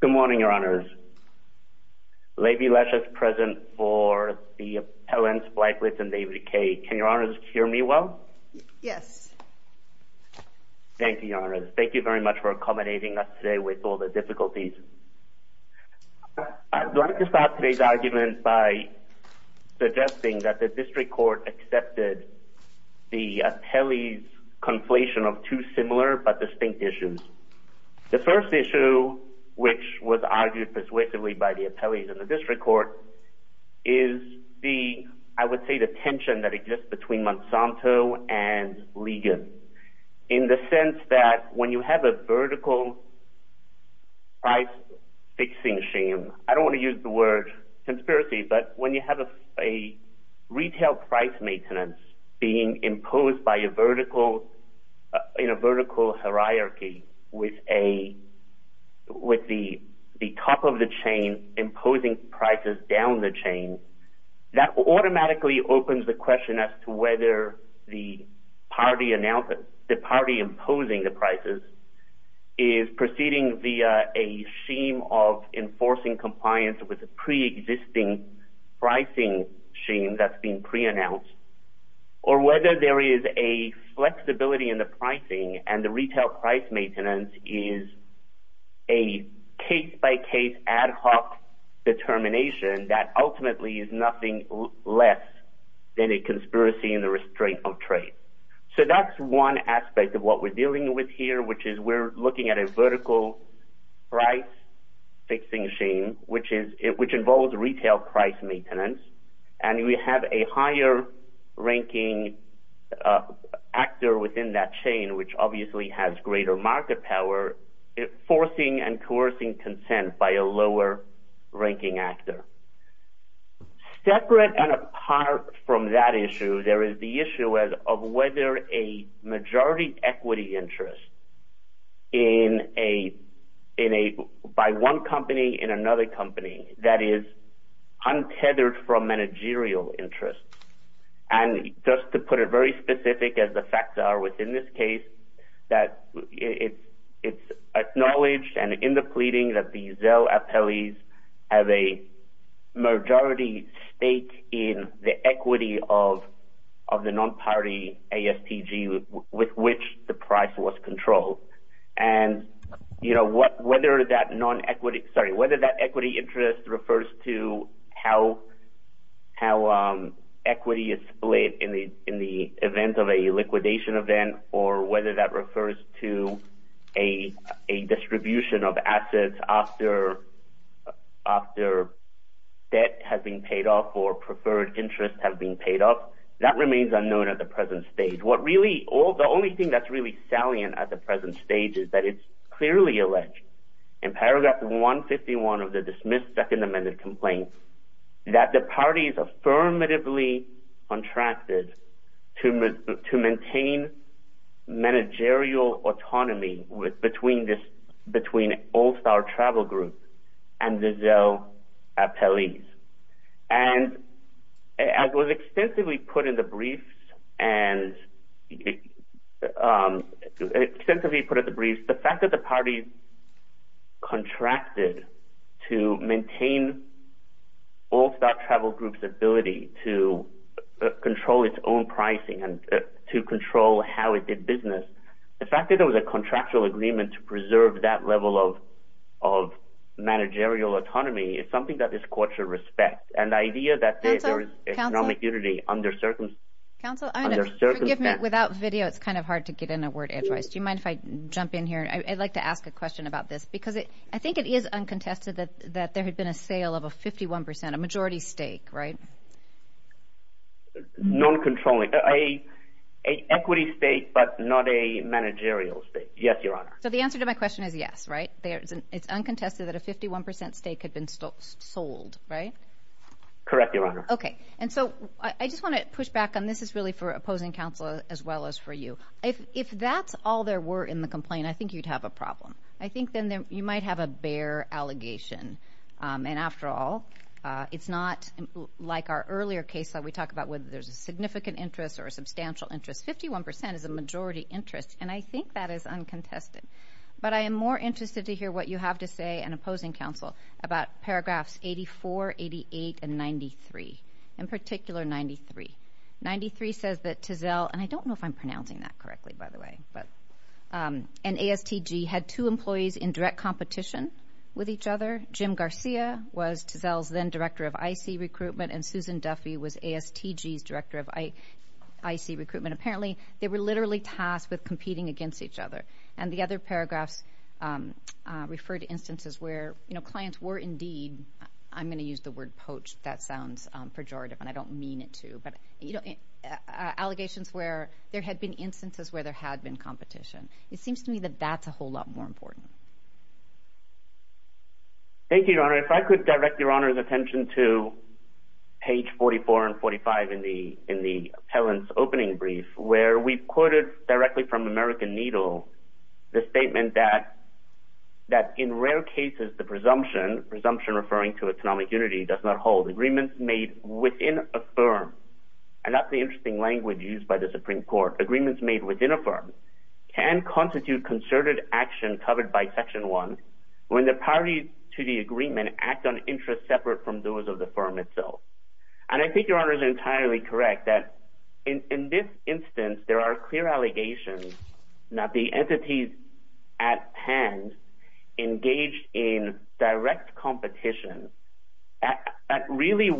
Good morning, Your Honors. Levy Lesch is present for the appellants Blyklitz and Davidecay. Can Your Honors hear me well? Yes. Thank you, Your Honors. Thank you very much for accommodating us today with all the difficulties. I'd like to start today's argument by suggesting that the District Court accepted the appellee's conflation of two similar but distinct issues. The first issue, which was argued persuasively by the appellees in the District Court, is the, I would say, the tension that exists between Monsanto and Ligon. In the sense that when you have a vertical price fixing scheme, I don't want to use the word conspiracy, but when you have a retail price maintenance being imposed in a vertical hierarchy with the top of the chain imposing prices down the chain, that automatically opens the question as to whether the party imposing the prices is proceeding via a scheme of enforcing compliance with a preexisting pricing scheme that's been preannounced, or whether there is a flexibility in the pricing and the retail price maintenance is a case-by-case ad hoc determination that ultimately is nothing less than a conspiracy in the restraint of trade. So that's one aspect of what we're dealing with here, which is we're looking at a vertical price fixing scheme, which involves retail price maintenance, and we have a higher-ranking actor within that chain, which obviously has greater market power, forcing and coercing consent by a lower-ranking actor. Separate and apart from that issue, there is the issue of whether a majority equity interest by one company in another company that is untethered from managerial interest. And just to put it very specific, as the facts are within this case, that it's acknowledged and in the pleading that the Zelle Appellees have a majority stake in the equity of the non-party ASTG with which the price was controlled. And whether that equity interest refers to how equity is split in the event of a liquidation event, or whether that refers to a distribution of assets after debt has been paid off or preferred interests have been paid off, that remains unknown at the present stage. The only thing that's really salient at the present stage is that it's clearly alleged in paragraph 151 of the dismissed Second Amended Complaint that the parties affirmatively contracted to maintain managerial autonomy between All-Star Travel Group and the Zelle Appellees. And as was extensively put in the briefs, the fact that the parties contracted to maintain All-Star Travel Group's ability to control its own pricing and to control how it did business, the fact that there was a contractual agreement to preserve that level of managerial autonomy is something that this court should respect. And the idea that there is economic unity under circumstance… Counsel? Counsel? Forgive me, without video, it's kind of hard to get in a word. Do you mind if I jump in here? I'd like to ask a question about this, because I think it is uncontested that there had been a sale of a 51 percent, a majority stake, right? Non-controlling. An equity stake, but not a managerial stake. Yes, Your Honor. So the answer to my question is yes, right? It's uncontested that a 51 percent stake had been sold, right? Correct, Your Honor. Okay. And so I just want to push back, and this is really for opposing counsel as well as for you. If that's all there were in the complaint, I think you'd have a problem. I think then you might have a bare allegation. And after all, it's not like our earlier case where we talk about whether there's a significant interest or a substantial interest. 51 percent is a majority interest, and I think that is uncontested. But I am more interested to hear what you have to say, and opposing counsel, about paragraphs 84, 88, and 93, in particular 93. 93 says that Tizell, and I don't know if I'm pronouncing that correctly, by the way, and ASTG had two employees in direct competition with each other. Jim Garcia was Tizell's then director of IC recruitment, and Susan Duffy was ASTG's director of IC recruitment. Apparently, they were literally tasked with competing against each other. And the other paragraphs refer to instances where clients were indeed, I'm going to use the word poached. That sounds pejorative, and I don't mean it to, but allegations where there had been instances where there had been competition. It seems to me that that's a whole lot more important. Thank you, Your Honor. If I could direct Your Honor's attention to page 44 and 45 in the appellant's opening brief, where we quoted directly from American Needle the statement that, in rare cases, the presumption, presumption referring to economic unity, does not hold. Agreements made within a firm, and that's the interesting language used by the Supreme Court, agreements made within a firm can constitute concerted action covered by Section 1, when the parties to the agreement act on interests separate from those of the firm itself. And I think Your Honor is entirely correct that, in this instance, there are clear allegations that the entities at hand engaged in direct competition really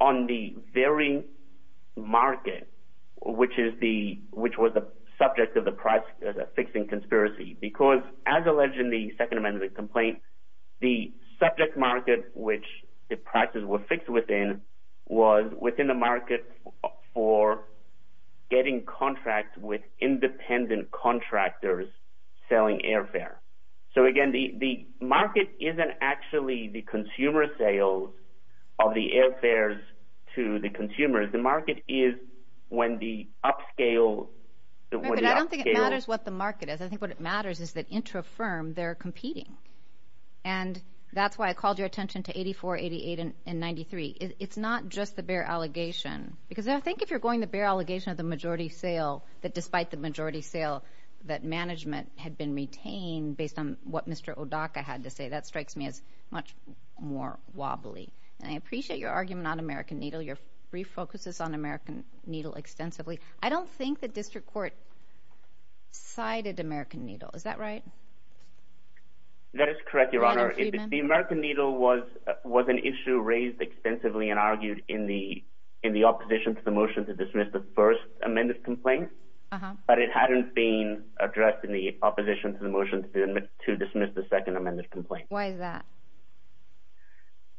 on the very market, which was the subject of the price fixing conspiracy. Because, as alleged in the Second Amendment complaint, the subject market, which the prices were fixed within, was within the market for getting contracts with independent contractors selling airfare. So, again, the market isn't actually the consumer sales of the airfares to the consumers. The market is when the upscale... I think what matters is that, into a firm, they're competing. And that's why I called your attention to 84, 88, and 93. It's not just the bear allegation. Because I think if you're going the bear allegation of the majority sale, that despite the majority sale, that management had been retained based on what Mr. Odaka had to say, that strikes me as much more wobbly. And I appreciate your argument on American Needle. Your brief focuses on American Needle extensively. I don't think the district court cited American Needle. Is that right? That is correct, Your Honor. The American Needle was an issue raised extensively and argued in the opposition to the motion to dismiss the First Amendment complaint. But it hadn't been addressed in the opposition to the motion to dismiss the Second Amendment complaint. Why is that?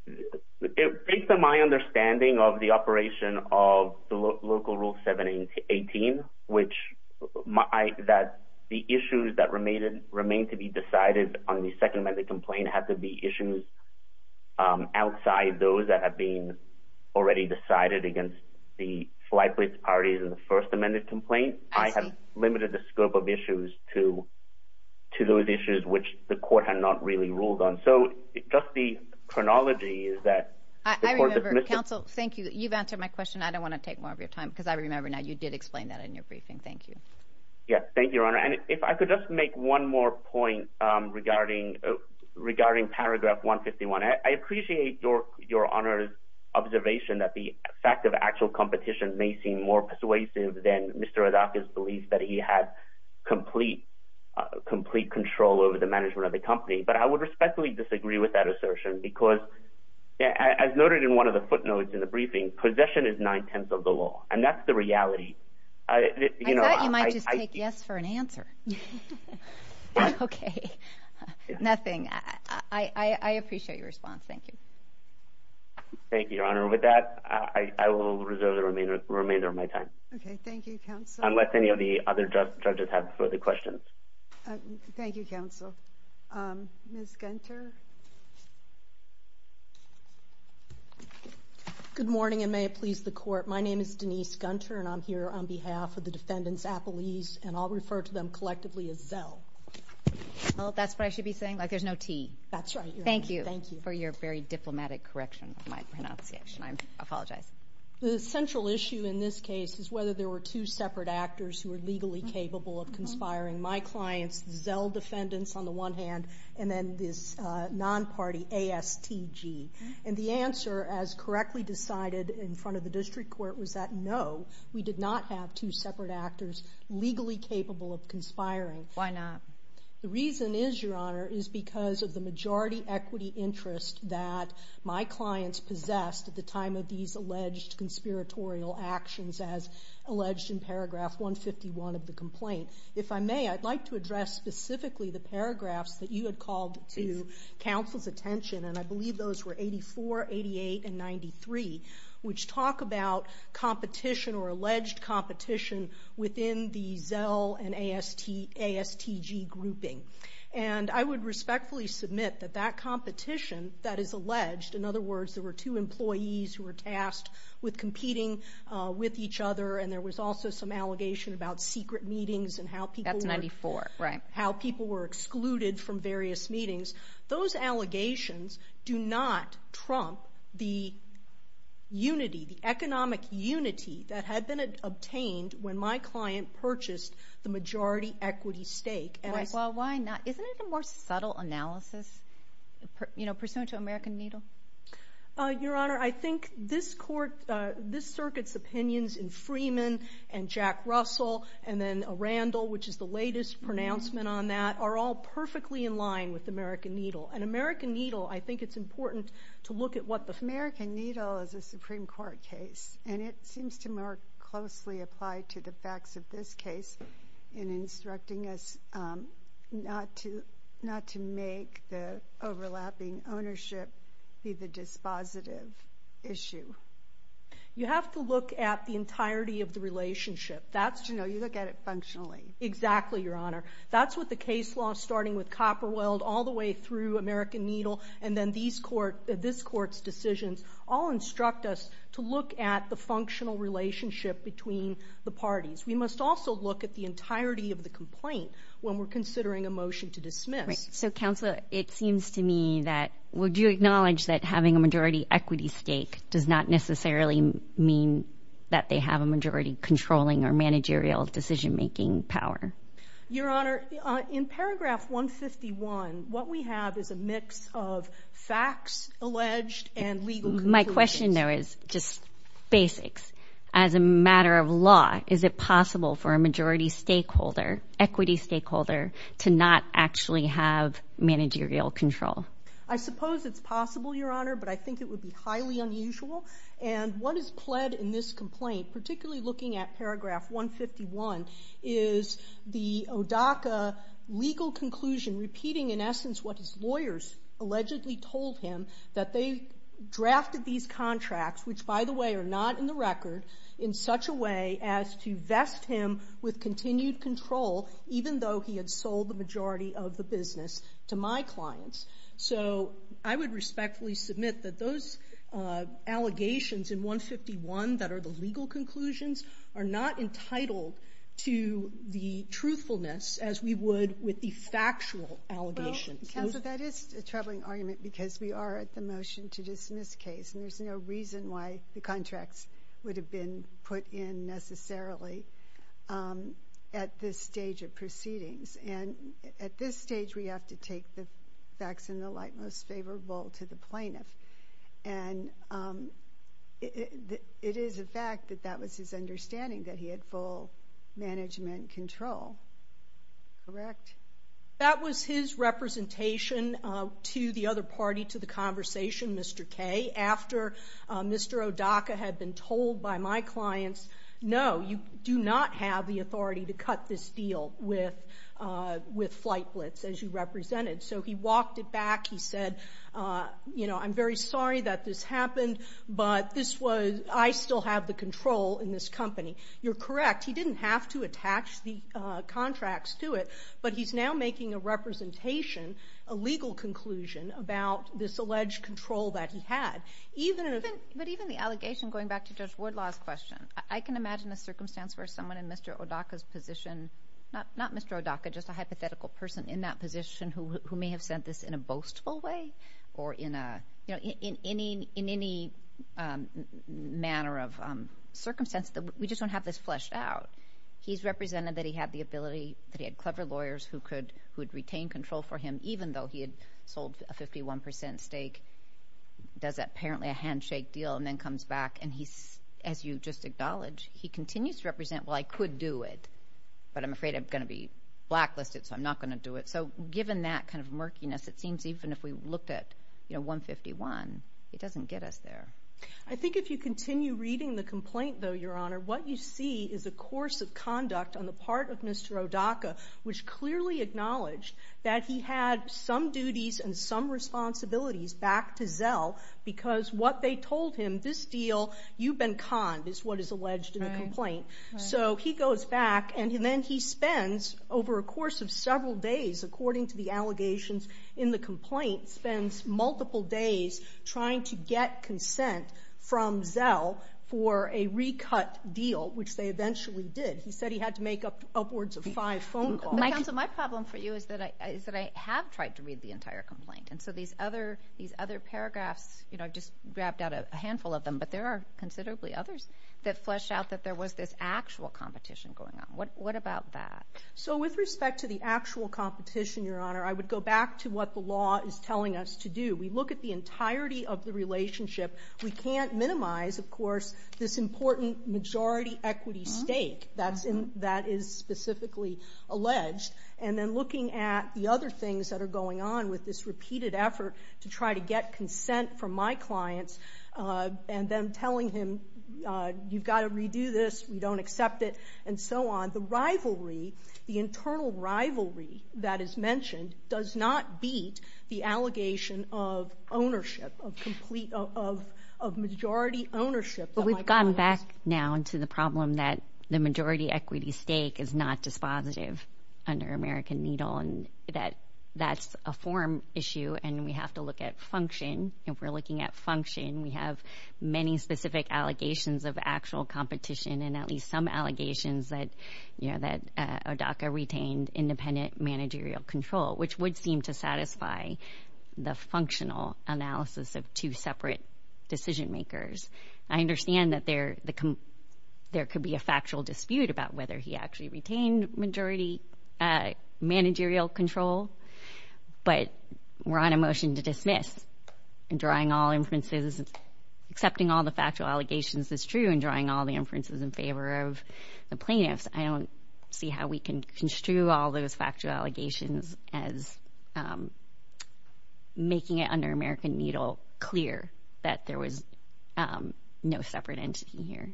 Based on my understanding of the operation of the local rule 718, which the issues that remain to be decided on the Second Amendment complaint have to be issues outside those that have been already decided against the flight plates parties in the First Amendment complaint. I have limited the scope of issues to those issues which the court had not really ruled on. So just the chronology is that the court dismissed it. I remember. Counsel, thank you. You've answered my question. I don't want to take more of your time because I remember now you did explain that in your briefing. Thank you. Yes, thank you, Your Honor. And if I could just make one more point regarding Paragraph 151. I appreciate Your Honor's observation that the fact of actual competition may seem more persuasive than Mr. Odaka's belief that he had complete control over the management of the company. But I would respectfully disagree with that assertion because, as noted in one of the footnotes in the briefing, possession is nine-tenths of the law, and that's the reality. I thought you might just take yes for an answer. Okay. Nothing. I appreciate your response. Thank you. Thank you, Your Honor. With that, I will reserve the remainder of my time. Okay. Thank you, Counsel. Unless any of the other judges have further questions. Thank you, Counsel. Ms. Gunter? Good morning, and may it please the Court. My name is Denise Gunter, and I'm here on behalf of the defendants' appellees, and I'll refer to them collectively as Zell. That's what I should be saying? Like there's no T? That's right, Your Honor. Thank you for your very diplomatic correction of my pronunciation. I apologize. The central issue in this case is whether there were two separate actors who were legally capable of conspiring. My clients, the Zell defendants on the one hand, and then this non-party ASTG. And the answer, as correctly decided in front of the district court, was that no, we did not have two separate actors legally capable of conspiring. Why not? The reason is, Your Honor, is because of the majority equity interest that my clients possessed at the time of these alleged conspiratorial actions, as alleged in paragraph 151 of the complaint. If I may, I'd like to address specifically the paragraphs that you had called to counsel's attention, and I believe those were 84, 88, and 93, which talk about competition or alleged competition within the Zell and ASTG grouping. And I would respectfully submit that that competition that is alleged, in other words, there were two employees who were tasked with competing with each other, and there was also some allegation about secret meetings and how people were excluded from various meetings. Those allegations do not trump the unity, the economic unity that had been obtained when my client purchased the majority equity stake. Well, why not? Isn't it a more subtle analysis, you know, pursuant to American Needle? Your Honor, I think this court, this circuit's opinions in Freeman and Jack Russell and then Randall, which is the latest pronouncement on that, are all perfectly in line with American Needle. And American Needle, I think it's important to look at what the... American Needle is a Supreme Court case, and it seems to more closely apply to the facts of this case in instructing us not to make the overlapping ownership be the dispositive issue. You have to look at the entirety of the relationship. No, you look at it functionally. Exactly, Your Honor. That's what the case law, starting with Copperweld all the way through American Needle and then this court's decisions, all instruct us to look at the functional relationship between the parties. We must also look at the entirety of the complaint when we're considering a motion to dismiss. Right. So, Counselor, it seems to me that would you acknowledge that having a majority equity stake does not necessarily mean that they have a majority controlling or managerial decision-making power? Your Honor, in paragraph 151, what we have is a mix of facts alleged and legal conclusions. My question, though, is just basics. As a matter of law, is it possible for a majority stakeholder, equity stakeholder, to not actually have managerial control? I suppose it's possible, Your Honor, but I think it would be highly unusual. And what is pled in this complaint, particularly looking at paragraph 151, is the ODACA legal conclusion repeating, in essence, what his lawyers allegedly told him, that they drafted these contracts, which, by the way, are not in the record, in such a way as to vest him with continued control even though he had sold the majority of the business to my clients. So I would respectfully submit that those allegations in 151 that are the legal conclusions are not entitled to the truthfulness as we would with the factual allegations. Counsel, that is a troubling argument because we are at the motion to dismiss case, and there's no reason why the contracts would have been put in necessarily at this stage of proceedings. And at this stage, we have to take the facts in the light most favorable to the plaintiff. And it is a fact that that was his understanding, that he had full management control. Correct? That was his representation to the other party, to the conversation, Mr. Kaye, Mr. ODACA had been told by my clients, no, you do not have the authority to cut this deal with Flightblitz, as you represented. So he walked it back. He said, you know, I'm very sorry that this happened, but this was, I still have the control in this company. You're correct. He didn't have to attach the contracts to it, but he's now making a representation, a legal conclusion about this alleged control that he had. But even the allegation, going back to Judge Woodlaw's question, I can imagine a circumstance where someone in Mr. ODACA's position, not Mr. ODACA, just a hypothetical person in that position who may have said this in a boastful way or in any manner of circumstance, we just don't have this fleshed out. He's represented that he had the ability, that he had clever lawyers who could retain control for him, even though he had sold a 51% stake, does apparently a handshake deal and then comes back. And he's, as you just acknowledged, he continues to represent, well, I could do it, but I'm afraid I'm going to be blacklisted, so I'm not going to do it. So given that kind of murkiness, it seems even if we looked at 151, it doesn't get us there. I think if you continue reading the complaint, though, Your Honor, what you see is a course of conduct on the part of Mr. ODACA, which clearly acknowledged that he had some duties and some responsibilities back to Zell because what they told him, this deal, you've been conned, is what is alleged in the complaint. So he goes back, and then he spends, over a course of several days, according to the allegations in the complaint, spends multiple days trying to get consent from Zell for a recut deal, which they eventually did. He said he had to make upwards of five phone calls. Counsel, my problem for you is that I have tried to read the entire complaint, and so these other paragraphs, you know, I've just grabbed out a handful of them, but there are considerably others that flesh out that there was this actual competition going on. What about that? So with respect to the actual competition, Your Honor, I would go back to what the law is telling us to do. We look at the entirety of the relationship. We can't minimize, of course, this important majority equity stake that is specifically alleged, and then looking at the other things that are going on with this repeated effort to try to get consent from my clients and then telling him you've got to redo this, we don't accept it, and so on. The rivalry, the internal rivalry that is mentioned does not beat the allegation of ownership, of majority ownership. But we've gone back now into the problem that the majority equity stake is not dispositive under American Needle and that that's a form issue and we have to look at function. If we're looking at function, we have many specific allegations of actual competition and at least some allegations that, you know, that Odaka retained independent managerial control, which would seem to satisfy the functional analysis of two separate decision makers. I understand that there could be a factual dispute about whether he actually retained majority managerial control, but we're on a motion to dismiss and drawing all inferences, because accepting all the factual allegations is true and drawing all the inferences in favor of the plaintiffs. I don't see how we can construe all those factual allegations as making it under American Needle clear that there was no separate entity here.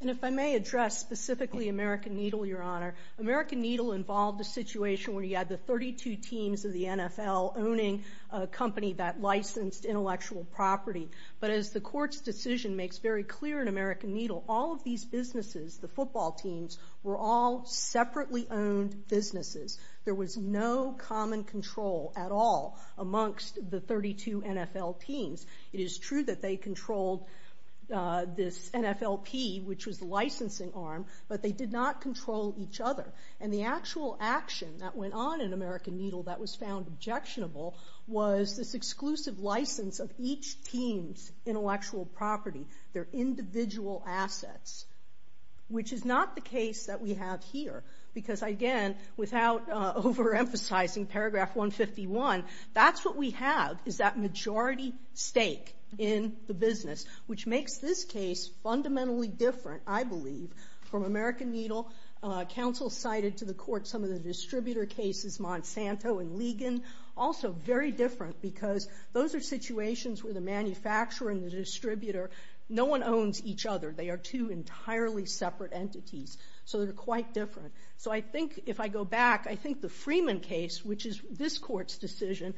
And if I may address specifically American Needle, Your Honor, American Needle involved a situation where you had the 32 teams of the NFL owning a company that licensed intellectual property. But as the court's decision makes very clear in American Needle, all of these businesses, the football teams, were all separately owned businesses. There was no common control at all amongst the 32 NFL teams. It is true that they controlled this NFLP, which was the licensing arm, but they did not control each other. And the actual action that went on in American Needle that was found objectionable was this exclusive license of each team's intellectual property, their individual assets, which is not the case that we have here because, again, without overemphasizing paragraph 151, that's what we have is that majority stake in the business, which makes this case fundamentally different, I believe, from American Needle. Counsel cited to the court some of the distributor cases, Monsanto and Ligon, also very different because those are situations where the manufacturer and the distributor, no one owns each other. They are two entirely separate entities, so they're quite different. So I think if I go back, I think the Freeman case, which is this court's decision,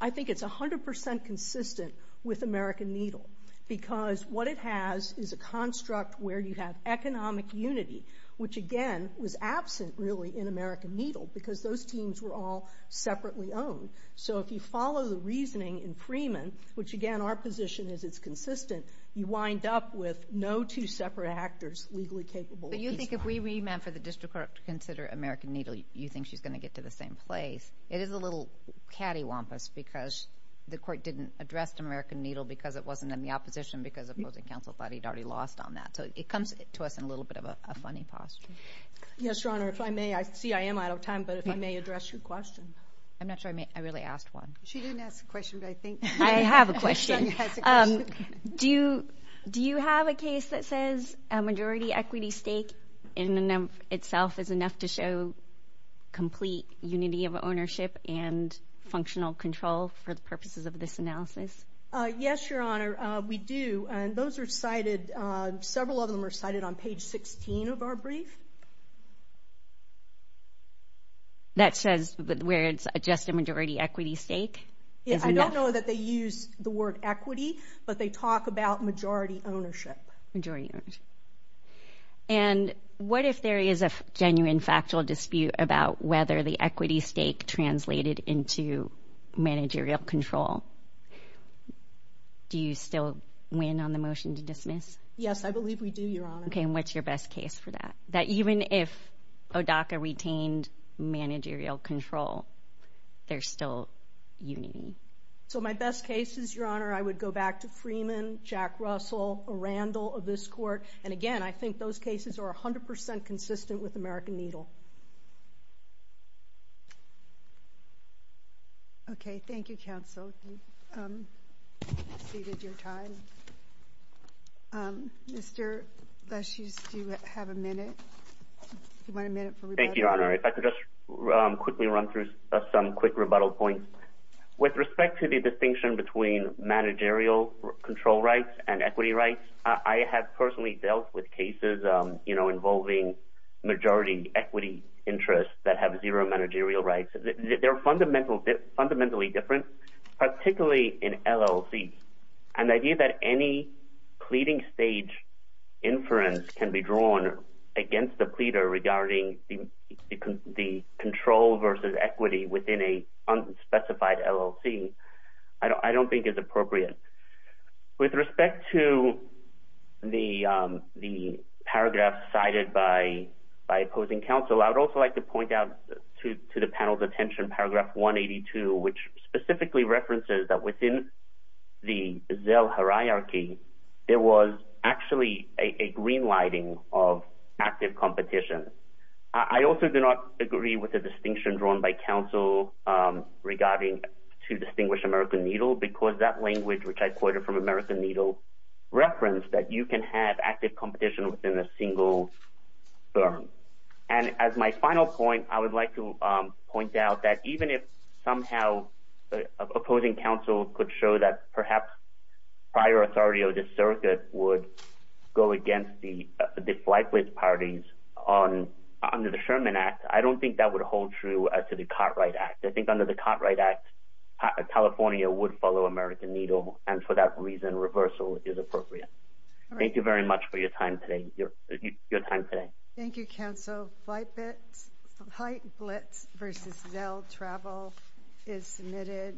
I think it's 100% consistent with American Needle because what it has is a construct where you have economic unity, which, again, was absent, really, in American Needle because those teams were all separately owned. So if you follow the reasoning in Freeman, which, again, our position is it's consistent, you wind up with no two separate actors legally capable of each one. But you think if we remand for the district court to consider American Needle, you think she's going to get to the same place. It is a little cattywampus because the court didn't address American Needle because it wasn't in the opposition because opposing counsel thought he'd already lost on that. So it comes to us in a little bit of a funny posture. Yes, Your Honor. If I may, I see I am out of time, but if I may address your question. I'm not sure I really asked one. She didn't ask a question, but I think. I have a question. Do you have a case that says a majority equity stake in and of itself is enough to show complete unity of ownership and functional control for the purposes of this analysis? Yes, Your Honor, we do. And those are cited, several of them are cited on page 16 of our brief. That says where it's just a majority equity stake? I don't know that they use the word equity, but they talk about majority ownership. Majority ownership. And what if there is a genuine factual dispute about whether the equity stake translated into managerial control? Do you still win on the motion to dismiss? Yes, I believe we do, Your Honor. Okay, and what's your best case for that? That even if ODACA retained managerial control, there's still unity. So my best case is, Your Honor, I would go back to Freeman, Jack Russell, Randall of this court, and, again, I think those cases are 100% consistent with American Needle. Okay, thank you, counsel. You've exceeded your time. Mr. Lesch, do you have a minute? Do you want a minute for rebuttal? Thank you, Your Honor. If I could just quickly run through some quick rebuttal points. With respect to the distinction between managerial control rights and equity rights, I have personally dealt with cases, you know, involving majority equity interests that have zero managerial rights. They're fundamentally different, particularly in LLC. And the idea that any pleading stage inference can be drawn against the pleader regarding the control versus equity within an unspecified LLC I don't think is appropriate. With respect to the paragraph cited by opposing counsel, I would also like to point out to the panel's attention Paragraph 182, which specifically references that within the Zell hierarchy, there was actually a green lighting of active competition. I also do not agree with the distinction drawn by counsel regarding to distinguish American Needle, because that language, which I quoted from American Needle, referenced that you can have active competition within a single firm. And as my final point, I would like to point out that even if somehow opposing counsel could show that perhaps prior authority of the circuit would go against the flightless parties under the Sherman Act, I don't think that would hold true to the Cartwright Act. I think under the Cartwright Act, California would follow American Needle. And for that reason, reversal is appropriate. Thank you very much for your time today. Thank you, counsel. Flight Blitz versus Zell Travel is submitted.